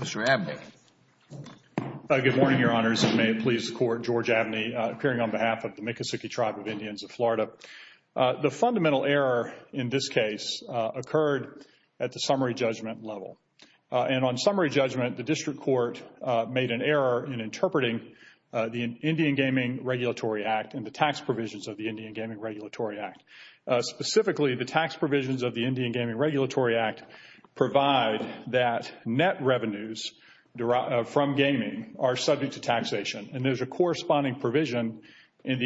Mr. Abney. Good morning, Your Honors, and may it please the Court, George Abney, appearing on behalf of the Miccosukee Tribe of Indians of Florida. The fundamental error in this case occurred at the summary judgment level. And on summary judgment, the District Court made an error in interpreting the Indian Gaming Regulatory Act and the tax provisions of the Indian Gaming Regulatory Act. Specifically, the tax provisions of the Indian Gaming Regulatory Act provide that net revenues from gaming are subject to taxation, and there's a corresponding provision in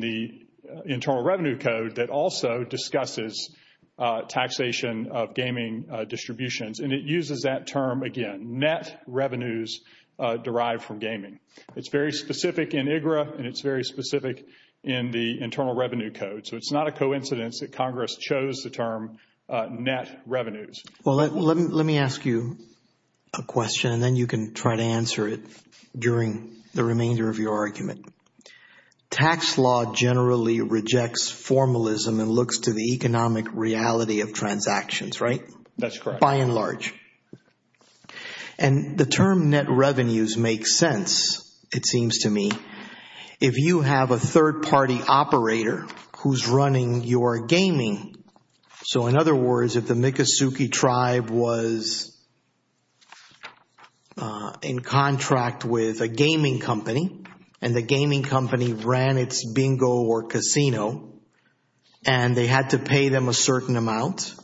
the Internal Revenue Code that also discusses taxation of gaming distributions, and it uses that term again, net revenues derived from gaming. It's very specific in IGRA, and it's very specific in the Internal Revenue Code, so it's not a coincidence that Congress chose the term net revenues. Well, let me ask you a question, and then you can try to answer it during the remainder of your argument. Tax law generally rejects formalism and looks to the economic reality of transactions, right? That's correct. By and large. And the term net revenues makes sense, it seems to me. If you have a third-party operator who's running your gaming, so in other words, if the Miccosukee tribe was in contract with a gaming company, and the gaming company ran its bingo or casino, and they had to pay them a certain amount,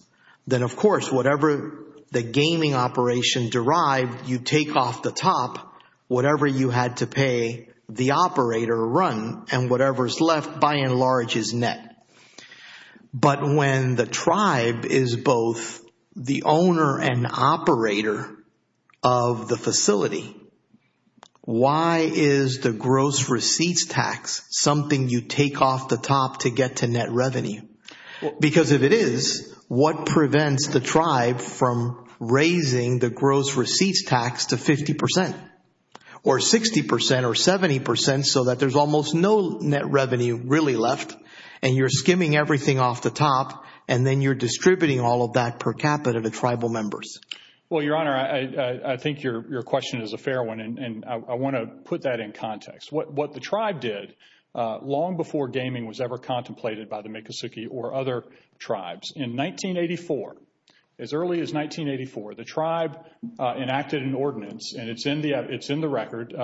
then of course, whatever the gaming operation derived, you take off the top, whatever you had to pay the operator run, and whatever's left by and large is net. But when the tribe is both the owner and operator of the facility, why is the gross receipts tax something you take off the top to get to net revenue? Because if it is, what prevents the tribe from raising the gross receipts tax to 50 percent, or 60 percent, or 70 percent, so that there's almost no net revenue really left, and you're skimming everything off the top, and then you're distributing all of that per capita to tribal members. Well, Your Honor, I think your question is a fair one, and I want to put that in context. What the tribe did, long before gaming was ever contemplated by the Miccosukee or other tribes, in 1984, as early as 1984, the tribe enacted an ordinance, and it's in the record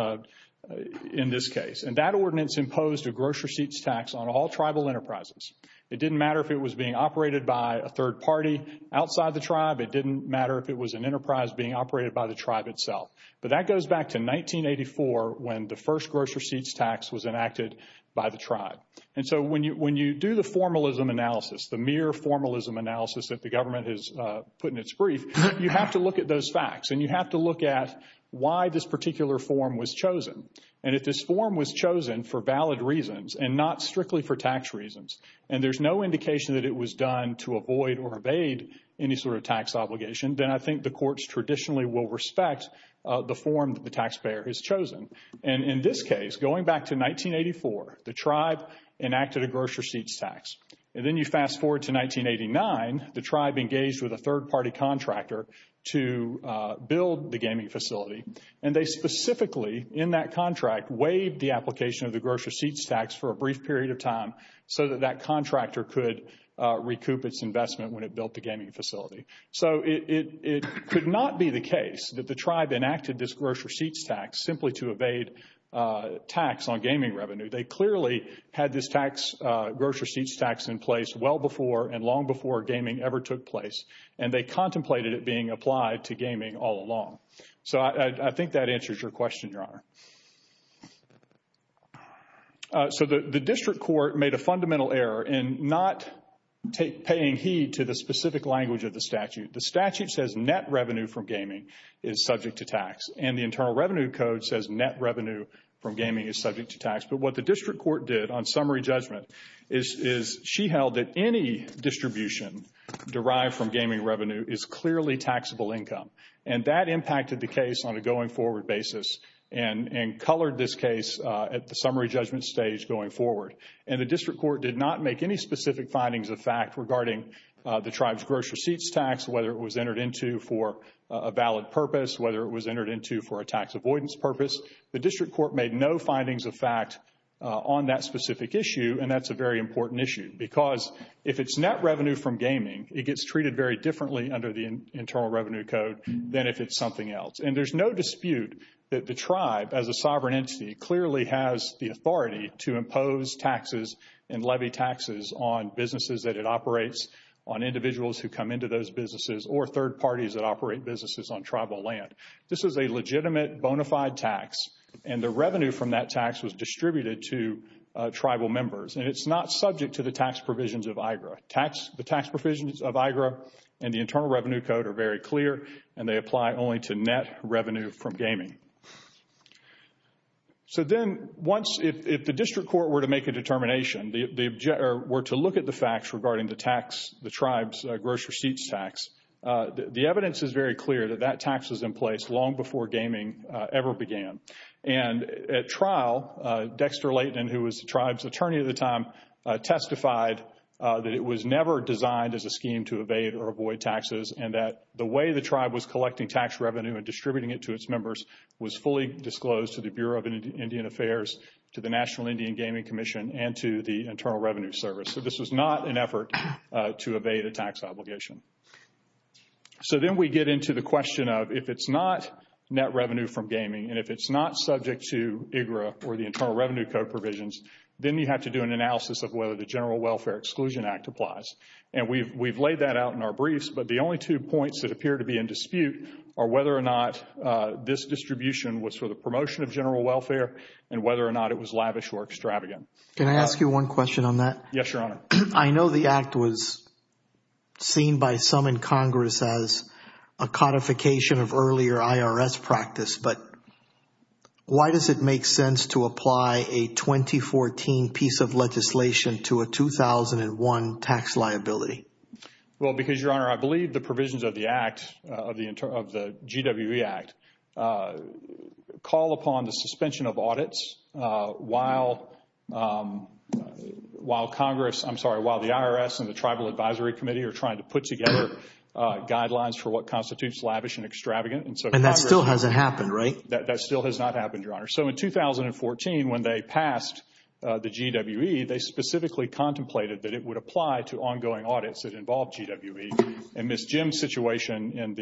in this case, and that ordinance imposed a gross receipts tax on all tribal enterprises. It didn't matter if it was being operated by a third party outside the tribe. It didn't matter if it was an enterprise being operated by the tribe itself. But that goes back to 1984, when the first gross receipts tax was enacted by the tribe. And so when you do the formalism analysis, the mere formalism analysis that the government has put in its brief, you have to look at those facts, and you have to look at why this particular form was chosen. And if this form was chosen for valid reasons, and not strictly for tax reasons, and there's no indication that it was done to avoid or evade any sort of tax obligation, then I think the courts traditionally will respect the form that the taxpayer has chosen. And in this case, going back to 1984, the tribe enacted a gross receipts tax. And then you fast forward to 1989, the tribe engaged with a third party contractor to build the gaming facility. And they specifically, in that contract, waived the application of the gross receipts tax for a brief period of time so that that contractor could recoup its investment when it built the gaming facility. So it could not be the case that the tribe enacted this gross receipts tax simply to evade tax on gaming revenue. They clearly had this gross receipts tax in place well before and long before gaming ever took place, and they contemplated it being applied to gaming all along. So I think that answers your question, Your Honor. So the district court made a fundamental error in not paying heed to the specific language of the statute. The statute says net revenue from gaming is subject to tax, and the Internal Revenue Code says net revenue from gaming is subject to tax. But what the district court did on summary judgment is she held that any distribution derived from gaming revenue is clearly taxable income. And that impacted the case on a going-forward basis and colored this case at the summary judgment stage going forward. And the district court did not make any specific findings of fact regarding the tribe's gross receipts tax, whether it was entered into for a valid purpose, whether it was entered into for a tax-avoidance purpose. The district court made no findings of fact on that specific issue, and that's a very important issue, because if it's net revenue from gaming, it gets treated very differently under the Internal Revenue Code than if it's something else. And there's no dispute that the tribe, as a sovereign entity, clearly has the authority to impose taxes and levy taxes on businesses that it operates, on individuals who come into those businesses, or third parties that operate businesses on tribal land. This is a legitimate, bona fide tax, and the revenue from that tax was distributed to tribal members. And it's not subject to the tax provisions of IGRA. The tax provisions of IGRA and the Internal Revenue Code are very clear, and they apply only to net revenue from gaming. So then, once, if the district court were to make a determination, or were to look at the facts regarding the tax, the tribe's gross receipts tax, the evidence is very clear that that tax was in place long before gaming ever began. And at trial, Dexter Leighton, who was the tribe's attorney at the time, testified that it was never designed as a scheme to evade or avoid taxes, and that the way the tribe was collecting tax revenue and distributing it to its members was fully disclosed to the Bureau of Indian Affairs, to the National Indian Gaming Commission, and to the Internal Revenue Service. So this was not an effort to evade a tax obligation. So then we get into the question of, if it's not net revenue from gaming, and if it's not subject to IGRA or the Internal Revenue Code provisions, then you have to do an analysis of whether the General Welfare Exclusion Act applies. And we've laid that out in our briefs, but the only two points that appear to be in dispute are whether or not this distribution was for the promotion of general welfare, and whether or not it was lavish or extravagant. Can I ask you one question on that? Yes, Your Honor. I know the act was seen by some in Congress as a codification of earlier IRS practice, but why does it make sense to apply a 2014 piece of legislation to a 2001 tax liability? Well, because, Your Honor, I believe the provisions of the act, of the GWE Act, call upon the suspension of audits while Congress, I'm sorry, while the IRS and the Tribal Advisory Committee are trying to put together guidelines for what constitutes lavish and extravagant. And that still hasn't happened, right? That still has not happened, Your Honor. So in 2014, when they passed the GWE, they specifically contemplated that it would apply to ongoing audits that involve GWE, and Ms. Jim's situation in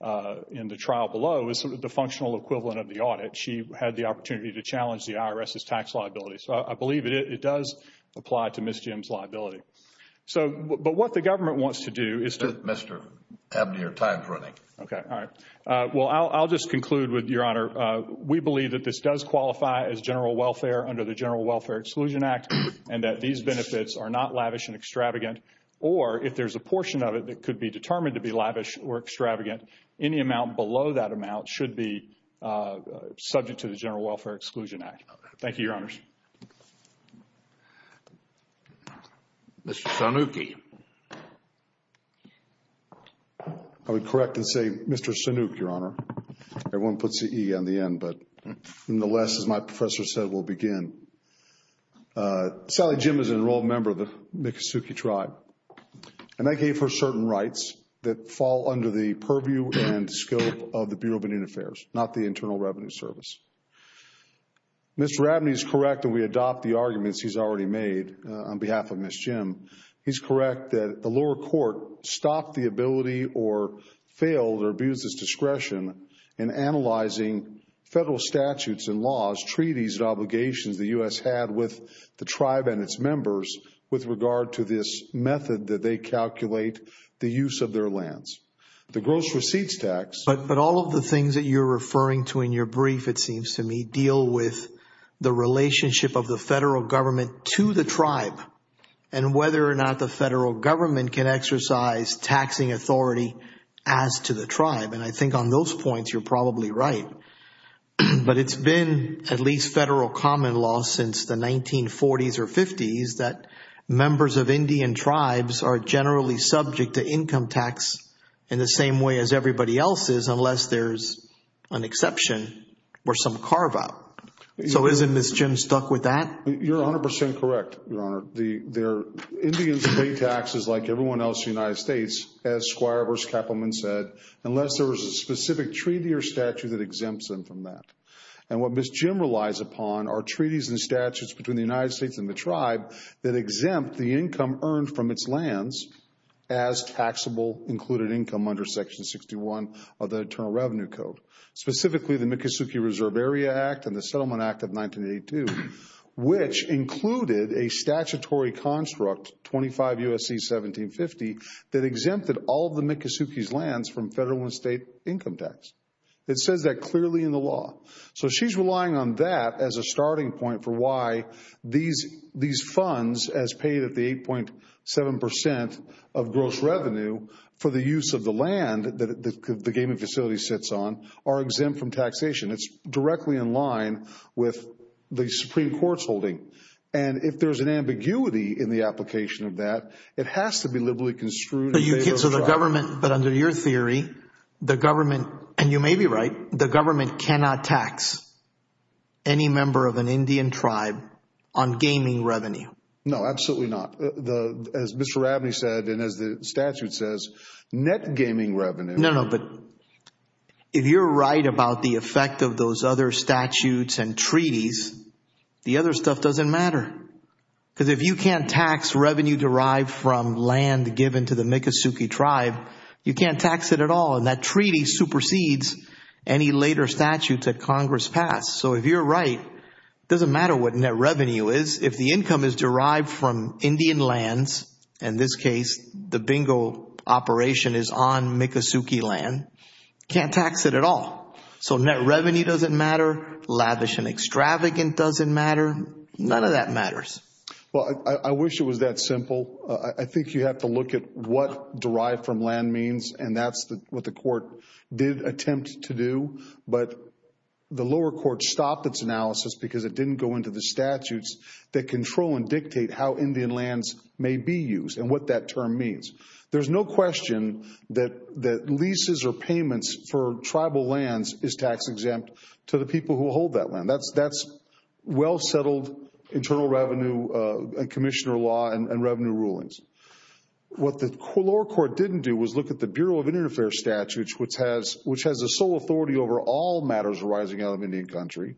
the trial below is sort of the functional equivalent of the audit. She had the opportunity to challenge the IRS's tax liability, so I believe it does apply to Ms. Jim's liability. But what the government wants to do is to... Mr. Abney, your time is running. Okay. All right. Well, I'll just conclude with, Your Honor, we believe that this does qualify as general welfare under the General Welfare Exclusion Act, and that these benefits are not lavish and extravagant, or if there's a portion of it that could be determined to be lavish or extravagant, any amount below that amount should be subject to the General Welfare Exclusion Act. Thank you, Your Honors. Mr. Sanuki. I would correct and say Mr. Sanuki, Your Honor. Everyone puts the E on the end, but nonetheless, as my professor said, we'll begin. Sally Jim is an enrolled member of the Miccosukee Tribe, and I gave her certain rights that fall under the purview and scope of the Bureau of Indian Affairs, not the Internal Revenue Service. Mr. Abney is correct, and we adopt the arguments he's already made on behalf of Ms. Jim. He's correct that the lower court stopped the ability, or failed, or abused its discretion in analyzing federal statutes and laws, treaties, and obligations the U.S. had with the tribe and its members with regard to this method that they calculate the use of their lands. The gross receipts tax- But all of the things that you're referring to in your brief, it seems to me, deal with the relationship of the federal government to the tribe, and whether or not the federal government can exercise taxing authority as to the tribe, and I think on those points, you're probably right. But it's been at least federal common law since the 1940s or 50s that members of Indian tribes are generally subject to income tax in the same way as everybody else is, unless there's an exception or some carve-out. So isn't Ms. Jim stuck with that? You're 100% correct, Your Honor. Indians pay taxes like everyone else in the United States, as Squire v. Kaplan said, unless there was a specific treaty or statute that exempts them from that. And what Ms. Jim relies upon are treaties and statutes between the United States and the tribe that exempt the income earned from its lands as taxable included income under Section 61 of the Internal Revenue Code, specifically the Miccosukee Reserve Area Act and the Settlement Act of 1982, which included a statutory construct, 25 U.S.C. 1750, that exempted all of the Miccosukee's lands from federal and state income tax. It says that clearly in the law. So she's relying on that as a starting point for why these funds, as paid at the 8.7% of gross revenue for the use of the land that the gaming facility sits on, are exempt from taxation. It's directly in line with the Supreme Court's holding. And if there's an ambiguity in the application of that, it has to be liberally construed in favor of the tribe. So the government, but under your theory, the government, and you may be right, the government cannot tax any member of an Indian tribe on gaming revenue. No, absolutely not. As Mr. Ravni said, and as the statute says, net gaming revenue. No, no, but if you're right about the effect of those other statutes and treaties, the other stuff doesn't matter. Because if you can't tax revenue derived from land given to the Miccosukee tribe, you can't tax it at all. And that treaty supersedes any later statutes that Congress passed. So if you're right, it doesn't matter what net revenue is. If the income is derived from Indian lands, in this case, the bingo operation is on Miccosukee land, you can't tax it at all. So net revenue doesn't matter, lavish and extravagant doesn't matter, none of that matters. Well, I wish it was that simple. I think you have to look at what derived from land means, and that's what the court did attempt to do. But the lower court stopped its analysis because it didn't go into the statutes that control and dictate how Indian lands may be used and what that term means. There's no question that leases or payments for tribal lands is tax-exempt to the people who hold that land. That's well-settled internal revenue and commissioner law and revenue rulings. What the lower court didn't do was look at the Bureau of Interest Statutes, which has a sole authority over all matters arising out of Indian country,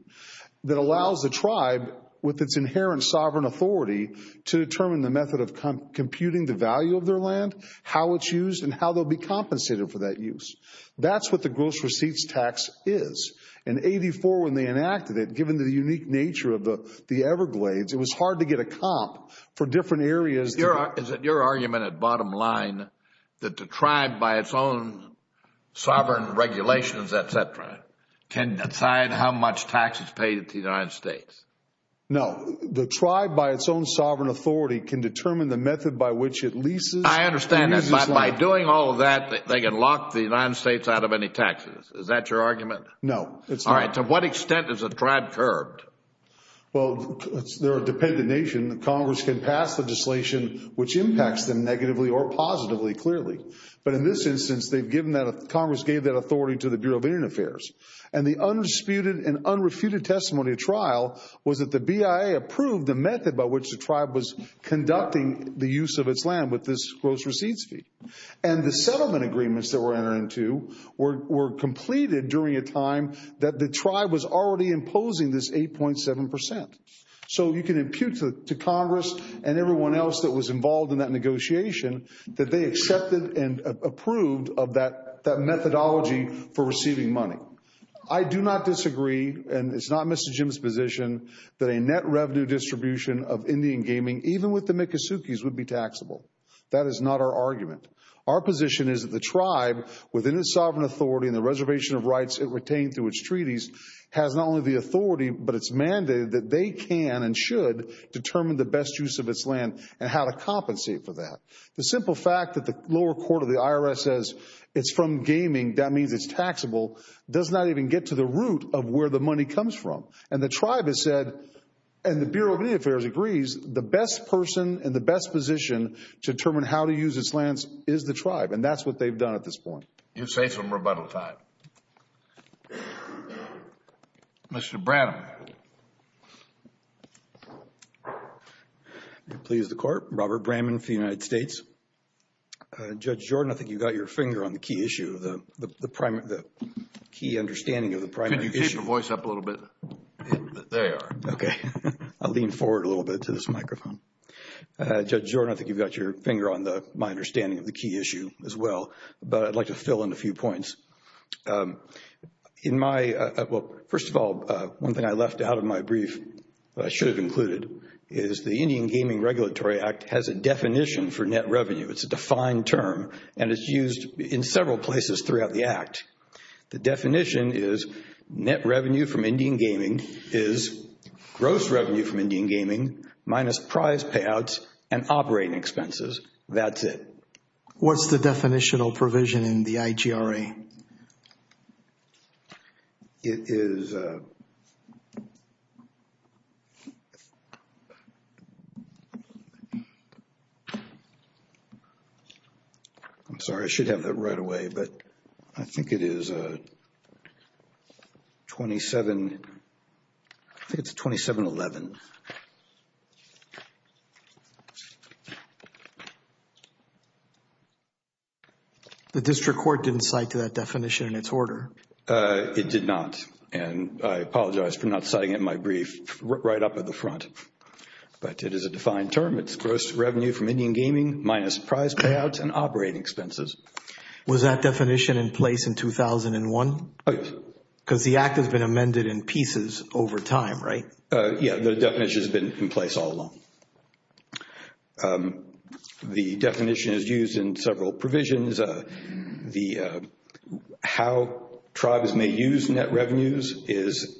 that allows the tribe, with its inherent sovereign authority, to determine the method of computing the value of their land, how it's used, and how they'll be compensated for that use. That's what the gross receipts tax is. In 84, when they enacted it, given the unique nature of the Everglades, it was hard to get a comp for different areas. Is it your argument at bottom line that the tribe, by its own sovereign regulations, etc., can decide how much tax is paid to the United States? No. The tribe, by its own sovereign authority, can determine the method by which it leases and uses land. I understand that by doing all of that, they can lock the United States out of any taxes. Is that your argument? No. All right. To what extent is the tribe curbed? Well, they're a dependent nation. Congress can pass legislation which impacts them negatively or positively, clearly. But in this instance, Congress gave that authority to the Bureau of Indian Affairs. And the undisputed and unrefuted testimony of trial was that the BIA approved the method by which the tribe was conducting the use of its land with this gross receipts fee. And the settlement agreements that were entered into were completed during a time that the tribe was already imposing this 8.7%. So you can impute to Congress and everyone else that was involved in that negotiation that they accepted and approved of that methodology for receiving money. I do not disagree, and it's not Mr. Jim's position, that a net revenue distribution of Indian gaming, even with the Miccosukees, would be taxable. That is not our argument. Our position is that the tribe, within its sovereign authority and the reservation of rights it retained through its treaties, has not only the authority, but it's mandated that they can and should determine the best use of its land and how to compensate for that. The simple fact that the lower court of the IRS says it's from gaming, that means it's taxable, does not even get to the root of where the money comes from. And the tribe has said, and the Bureau of Indian Affairs agrees, the best person in the best position to determine how to use its lands is the tribe, and that's what they've done at this point. You'll save some rebuttal time. Mr. Brannum. Please the Court. Robert Brannum for the United States. Judge Jordan, I think you've got your finger on the key issue, the key understanding of the primary issue. Can you keep your voice up a little bit? There you are. Okay. I'll lean forward a little bit to this microphone. Judge Jordan, I think you've got your finger on my understanding of the key issue as well, but I'd like to fill in a few points. In my... Well, first of all, one thing I left out of my brief that I should have included is the Indian Gaming Regulatory Act has a definition for net revenue. It's a defined term, and it's used in several places throughout the Act. The definition is net revenue from Indian gaming is gross revenue from Indian gaming minus prize payouts and operating expenses. That's it. What's the definitional provision in the IGRA? It is... I'm sorry. I should have that right away, but I think it is a 27, I think it's 2711. The district court didn't cite to that definition in its order. It did not, and I apologize for not citing it in my brief right up at the front, but it is a defined term. It's gross revenue from Indian gaming minus prize payouts and operating expenses. Was that definition in place in 2001? Oh, yes. Because the Act has been amended in pieces over time, right? Yeah, the definition has been in place all along. The definition is used in several provisions. How tribes may use net revenues is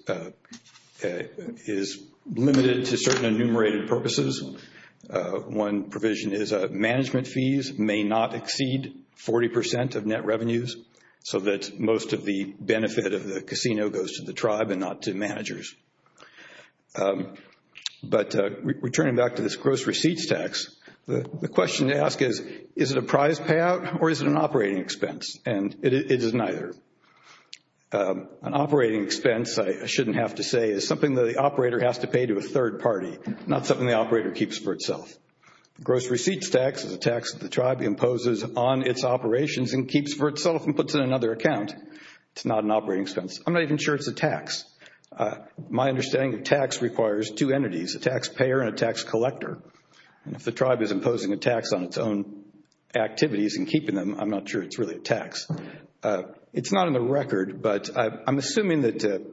limited to certain enumerated purposes. One provision is management fees may not exceed 40% of net revenues, so that most of the benefit of the casino goes to the tribe and not to managers. But returning back to this gross receipts tax, the question to ask is, is it a prize payout or is it an operating expense? And it is neither. An operating expense, I shouldn't have to say, is something that the operator has to pay to a third party, not something the operator keeps for itself. Gross receipts tax is a tax that the tribe imposes on its operations and keeps for itself and puts in another account. It's not an operating expense. I'm not even sure it's a tax. My understanding of tax requires two entities, a taxpayer and a tax collector. And if the tribe is imposing a tax on its own activities and keeping them, I'm not sure it's really a tax. It's not in the record, but I'm assuming that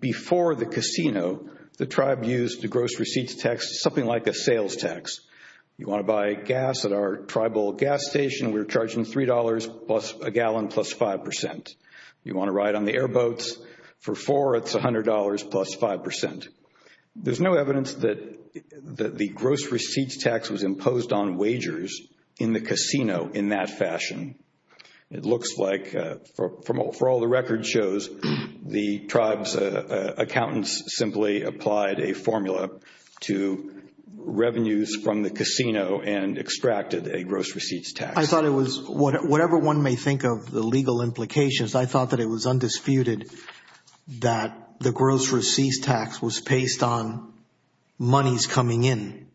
before the casino, the tribe used the gross receipts tax as something like a sales tax. You want to buy gas at our tribal gas station, we're charging $3 plus a gallon plus 5%. You want to ride on the airboats, for four it's $100 plus 5%. There's no evidence that the gross receipts tax was imposed on wagers in the casino in that fashion. It looks like, from all the record shows, the tribe's accountants simply applied a formula to revenues from the casino and extracted a gross receipts tax. I thought it was, whatever one may think of the legal implications, I thought that it was undisputed that the gross receipts tax was based on monies coming in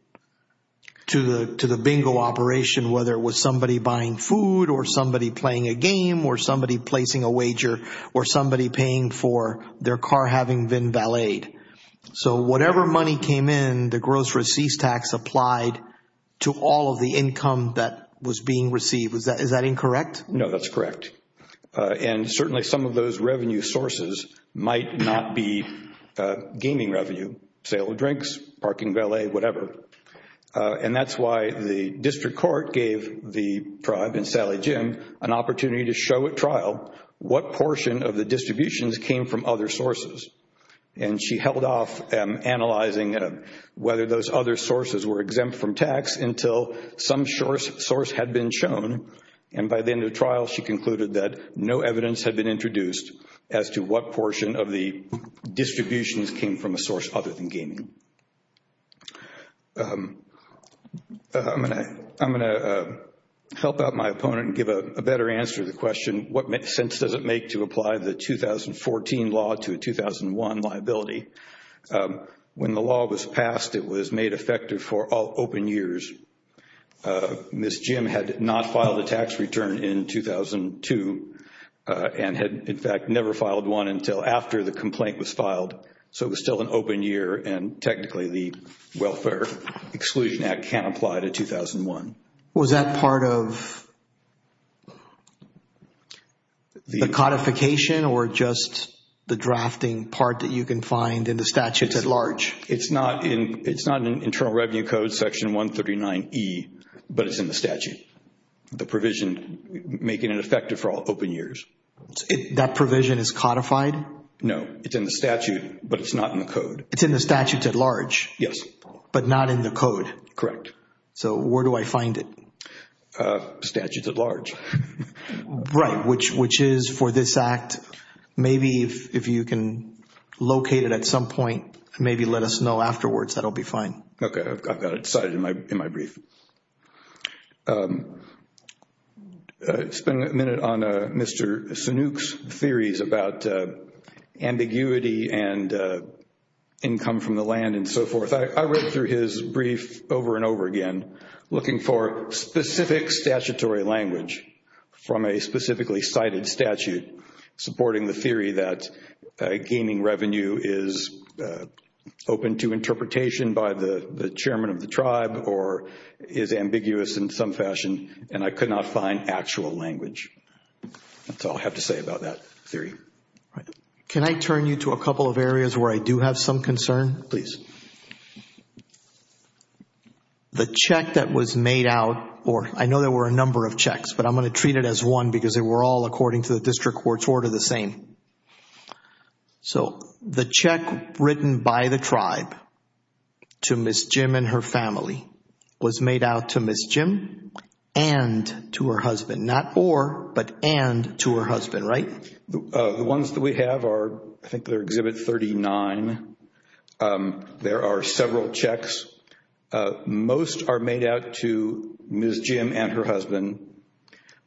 to the bingo operation, whether it was somebody buying food or somebody playing a game or somebody placing a wager or somebody paying for their car having been valeted. So whatever money came in, the gross receipts tax applied to all of the income that was being received. Is that incorrect? No, that's correct. And certainly some of those revenue sources might not be gaming revenue, sale of drinks, parking valet, whatever. And that's why the district court gave the tribe and Sally Jim an opportunity to show at trial what portion of the distributions came from other sources. And she held off analyzing whether those other sources were exempt from tax until some source had been shown. And by the end of the trial, she concluded that no evidence had been introduced as to what portion of the distributions came from a source other than gaming. I'm going to help out my opponent and give a better answer to the question, what sense does it make to apply the 2014 law to a 2001 liability? When the law was passed, it was made effective for all open years. Ms. Jim had not filed a tax return in 2002 and had, in fact, never filed one until after the complaint was filed. So it was still an open year and technically the Welfare Exclusion Act can't apply to 2001. Was that part of the codification or just the drafting part that you can find in the statutes at large? It's not in Internal Revenue Code Section 139E, but it's in the statute. The provision making it effective for all open years. That provision is codified? No. It's in the statute, but it's not in the code. It's in the statutes at large? Yes. But not in the code? Correct. So where do I find it? Statutes at large. Right. Which is for this act, maybe if you can locate it at some point, maybe let us know afterwards, that'll be fine. Okay. I've got it cited in my brief. I spent a minute on Mr. Sanook's theories about ambiguity and income from the land and so forth. I read through his brief over and over again, looking for specific statutory language from a specifically cited statute supporting the theory that gaining revenue is open to interpretation by the chairman of the tribe or is ambiguous in some fashion, and I could not find actual language. That's all I have to say about that theory. Can I turn you to a couple of areas where I do have some concern, please? The check that was made out, or I know there were a number of checks, but I'm going to because they were all, according to the district court's order, the same. So the check written by the tribe to Ms. Jim and her family was made out to Ms. Jim and to her husband. Not or, but and to her husband, right? The ones that we have are, I think they're Exhibit 39. There are several checks. Most are made out to Ms. Jim and her husband.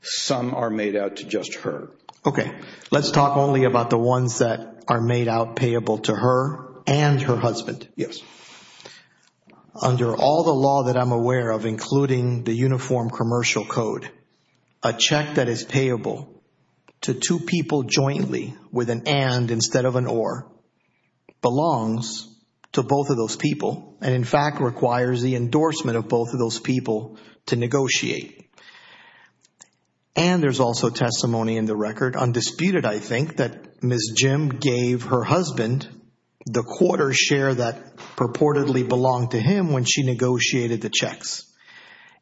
Some are made out to just her. Okay. Let's talk only about the ones that are made out payable to her and her husband. Yes. Under all the law that I'm aware of, including the Uniform Commercial Code, a check that is payable to two people jointly with an and instead of an or belongs to both of those people and in fact requires the endorsement of both of those people to negotiate. And there's also testimony in the record, undisputed I think, that Ms. Jim gave her husband the quarter share that purportedly belonged to him when she negotiated the checks.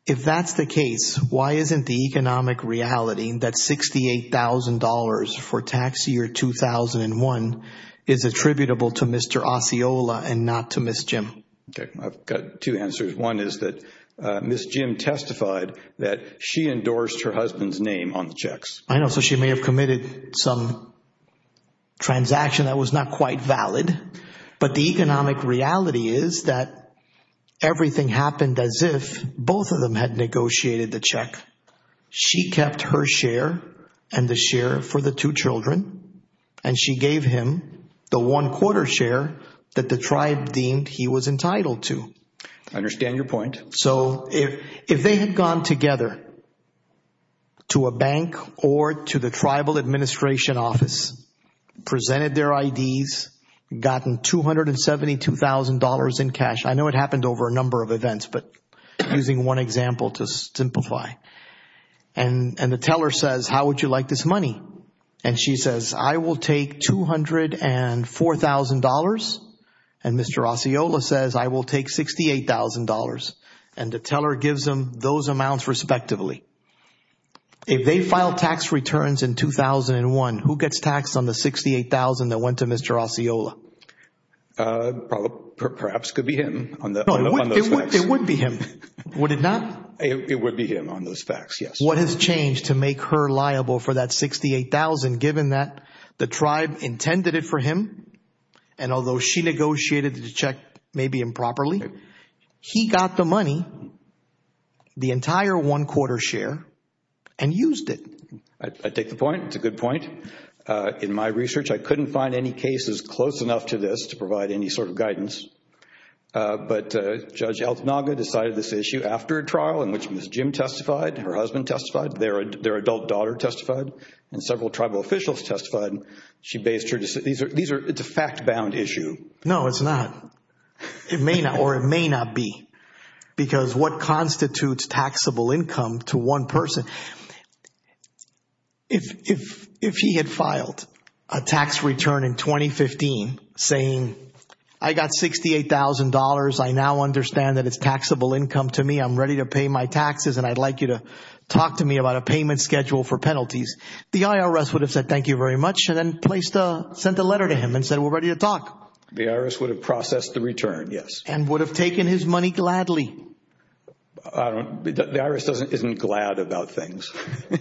If that's the case, why isn't the economic reality that $68,000 for tax year 2001 is attributable to Mr. Osceola and not to Ms. Jim? Okay. I've got two answers. One is that Ms. Jim testified that she endorsed her husband's name on the checks. I know. So she may have committed some transaction that was not quite valid, but the economic reality is that everything happened as if both of them had negotiated the check. She kept her share and the share for the two children and she gave him the one quarter share that the tribe deemed he was entitled to. Understand your point. So if they had gone together to a bank or to the tribal administration office, presented their IDs, gotten $272,000 in cash, I know it happened over a number of events, but using one example to simplify. And the teller says, how would you like this money? And she says, I will take $204,000 and Mr. Osceola says, I will take $68,000. And the teller gives them those amounts respectively. If they filed tax returns in 2001, who gets taxed on the $68,000 that went to Mr. Osceola? Perhaps could be him. It would be him. Would it not? It would be him on those facts, yes. What has changed to make her liable for that $68,000 given that the tribe intended it for him and although she negotiated the check maybe improperly, he got the money, the entire one quarter share and used it. I take the point. It's a good point. In my research, I couldn't find any cases close enough to this to provide any sort of this issue after a trial in which Ms. Jim testified, her husband testified, their adult daughter testified, and several tribal officials testified. She based her decision. It's a fact-bound issue. No, it's not. It may not or it may not be because what constitutes taxable income to one person? If he had filed a tax return in 2015 saying, I got $68,000, I now understand that it's taxable income to me, I'm ready to pay my taxes, and I'd like you to talk to me about a payment schedule for penalties, the IRS would have said, thank you very much and sent a letter to him and said, we're ready to talk. The IRS would have processed the return, yes. And would have taken his money gladly. The IRS isn't glad about things.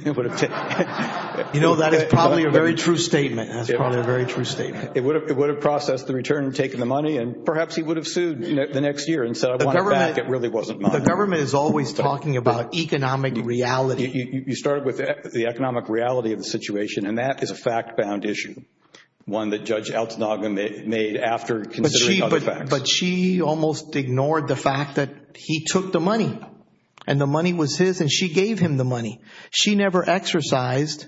You know, that is probably a very true statement. That's probably a very true statement. It would have processed the return and taken the money and perhaps he would have sued the next year and said, I want it back, it really wasn't mine. The government is always talking about economic reality. You start with the economic reality of the situation and that is a fact-bound issue. One that Judge Altanaga made after considering other facts. But she almost ignored the fact that he took the money and the money was his and she gave him the money. She never exercised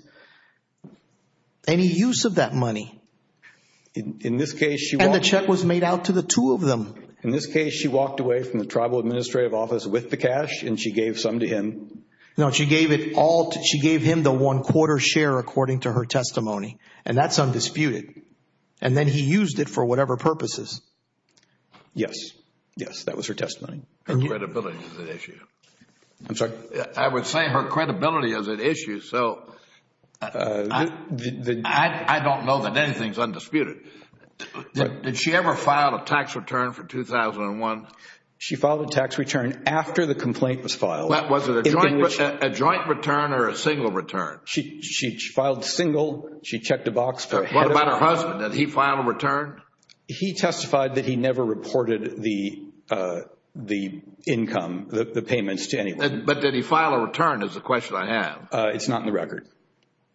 any use of that money. In this case, she won't. And the check was made out to the two of them. In this case, she walked away from the Tribal Administrative Office with the cash and she gave some to him. No, she gave it all, she gave him the one quarter share according to her testimony and that's undisputed. And then he used it for whatever purposes. Yes, yes. That was her testimony. Her credibility is at issue. I'm sorry? I would say her credibility is at issue, so I don't know that anything is undisputed. Did she ever file a tax return for 2001? She filed a tax return after the complaint was filed. Was it a joint return or a single return? She filed single. She checked a box. What about her husband? Did he file a return? He testified that he never reported the income, the payments to anyone. But did he file a return is the question I have. It's not in the record.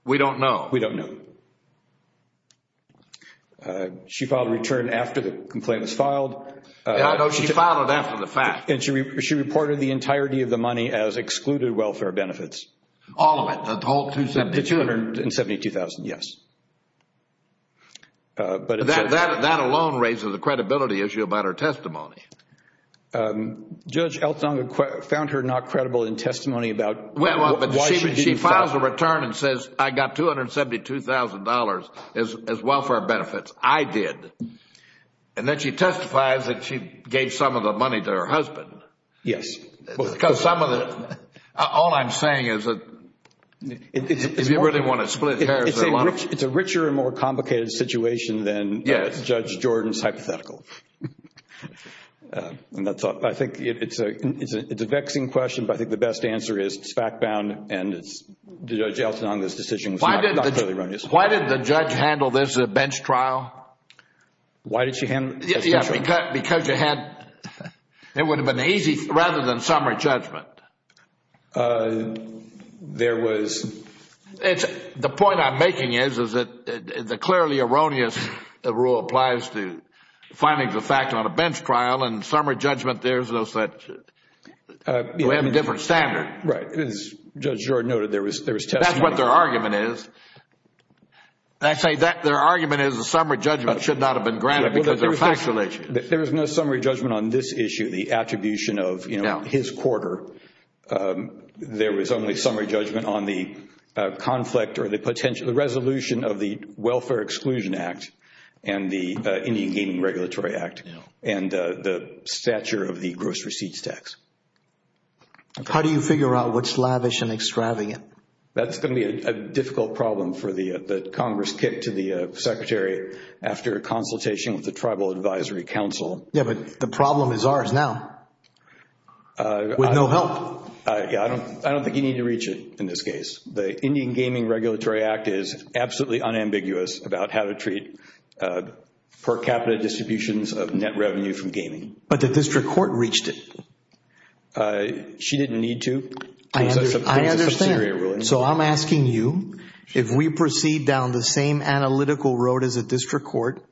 We don't know. We don't know. Did she file a return? She filed a return after the complaint was filed. No, she filed it after the fact. She reported the entirety of the money as excluded welfare benefits. All of it, the whole 272? The 272,000, yes. That alone raises a credibility issue about her testimony. Judge Eltsonga found her not credible in testimony about why she didn't file it. She filed a return and says, I got $272,000 as welfare benefits. I did. And then she testifies that she gave some of the money to her husband. Yes. Because some of the... All I'm saying is that if you really want to split hairs, there are a lot of... It's a richer and more complicated situation than Judge Jordan's hypothetical. I think it's a vexing question, but I think the best answer is it's fact-bound and it's true. Judge Eltsonga's decision was not clearly erroneous. Why did the judge handle this as a bench trial? Why did she handle it as a bench trial? Because you had... It would have been easy rather than summary judgment. There was... The point I'm making is that the clearly erroneous rule applies to findings of fact on a bench trial and summary judgment, there's no such... We have a different standard. Right. As Judge Jordan noted, there was testimony... That's what their argument is. I say that their argument is the summary judgment should not have been granted because they're fact-related. There was no summary judgment on this issue, the attribution of his quarter. There was only summary judgment on the conflict or the resolution of the Welfare Exclusion Act and the Indian Gaming Regulatory Act and the stature of the gross receipts tax. How do you figure out what's lavish and extravagant? That's going to be a difficult problem for the Congress to get to the Secretary after a consultation with the Tribal Advisory Council. Yeah, but the problem is ours now with no help. I don't think you need to reach it in this case. The Indian Gaming Regulatory Act is absolutely unambiguous about how to treat per capita distributions of net revenue from gaming. But the district court reached it. She didn't need to. I understand. It was a subsidiary ruling. I understand. So I'm asking you, if we proceed down the same analytical road as a district court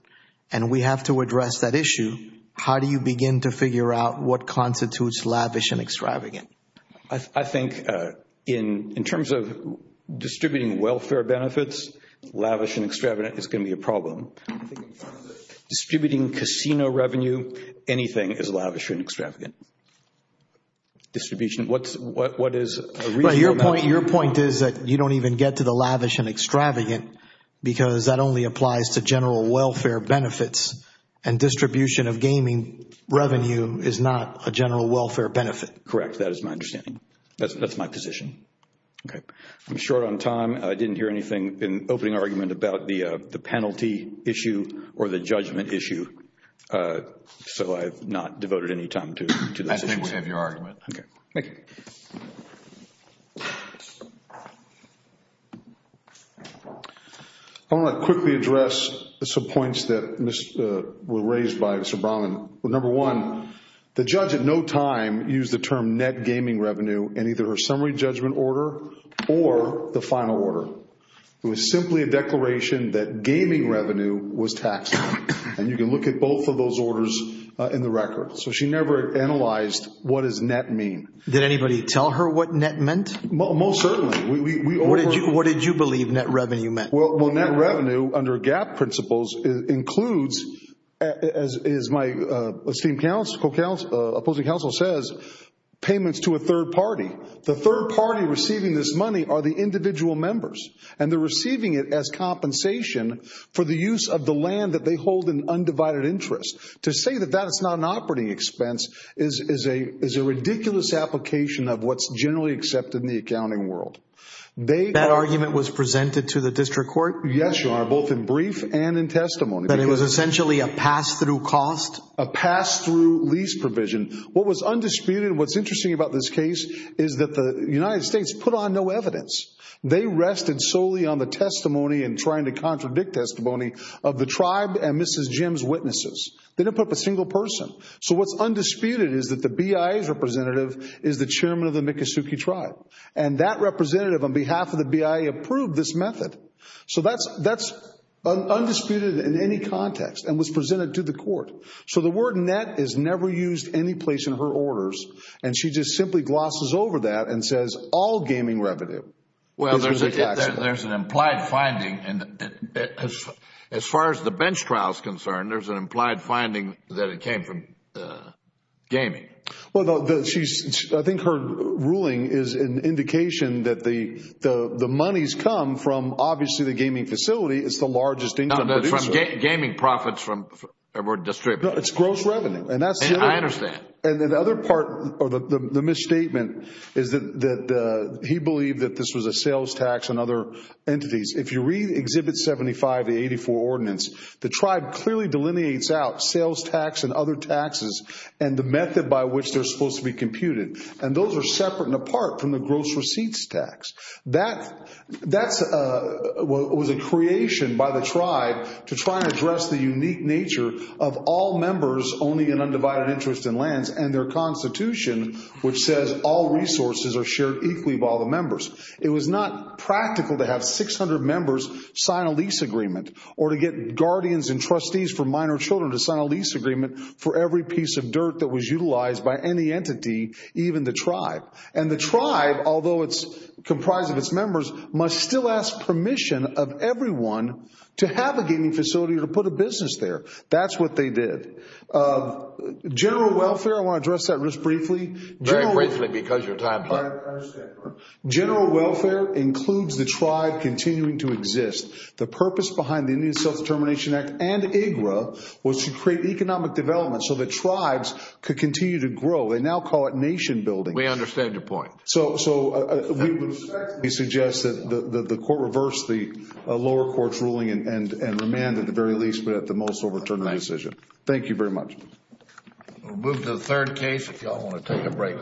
and we have to address that issue, how do you begin to figure out what constitutes lavish and extravagant? I think in terms of distributing welfare benefits, lavish and extravagant is going to be a problem. Distributing casino revenue, anything is lavish and extravagant. Distribution, what is a reasonable amount? Your point is that you don't even get to the lavish and extravagant because that only applies to general welfare benefits and distribution of gaming revenue is not a general welfare benefit. Correct. That is my understanding. That's my position. Okay. I'm short on time. I didn't hear anything in opening argument about the penalty issue or the judgment issue. So I've not devoted any time to that. I think we have your argument. Okay. Thank you. I want to quickly address some points that were raised by Mr. Bromman. Number one, the judge at no time used the term net gaming revenue in either her summary judgment order or the final order. It was simply a declaration that gaming revenue was taxed. And you can look at both of those orders in the record. So she never analyzed what does net mean. Did anybody tell her what net meant? Most certainly. What did you believe net revenue meant? Well, net revenue under GAAP principles includes, as my esteemed opposing counsel says, payments to a third party. The third party receiving this money are the individual members, and they're receiving it as compensation for the use of the land that they hold in undivided interest. To say that that is not an operating expense is a ridiculous application of what's generally accepted in the accounting world. That argument was presented to the district court? Yes, Your Honor, both in brief and in testimony. That it was essentially a pass-through cost? A pass-through lease provision. What was undisputed and what's interesting about this case is that the United States put on no evidence. They rested solely on the testimony and trying to contradict testimony of the tribe and Mrs. Jim's witnesses. They didn't put up a single person. So what's undisputed is that the BIA's representative is the chairman of the Miccosukee tribe. And that representative, on behalf of the BIA, approved this method. So that's undisputed in any context and was presented to the court. So the word net is never used any place in her orders. And she just simply glosses over that and says all gaming revenue is a tax cut. There's an implied finding, as far as the bench trial is concerned, there's an implied finding that it came from gaming. I think her ruling is an indication that the monies come from, obviously, the gaming facility. It's the largest income producer. Gaming profits were distributed. It's gross revenue. I understand. And the other part of the misstatement is that he believed that this was a sales tax on other entities. If you read Exhibit 75, the 84 ordinance, the tribe clearly delineates out sales tax and other taxes and the method by which they're supposed to be computed. And those are separate and apart from the gross receipts tax. That was a creation by the tribe to try and address the unique nature of all members owning an undivided interest in lands and their constitution, which says all resources are shared equally by all the members. It was not practical to have 600 members sign a lease agreement or to get guardians and trustees for minor children to sign a lease agreement for every piece of dirt that was utilized by any entity, even the tribe. And the tribe, although it's comprised of its members, must still ask permission of everyone to have a gaming facility to put a business there. That's what they did. General welfare, I want to address that just briefly. Very briefly because you're time is up. General welfare includes the tribe continuing to exist. The purpose behind the Indian Self-Determination Act and AGRA was to create economic development so that tribes could continue to grow. They now call it nation building. We understand your point. So we would suggest that the court reverse the lower court's ruling and remand at the very least but at the most overturning decision. Thank you very much. We'll move to the third case if you all want to take a break.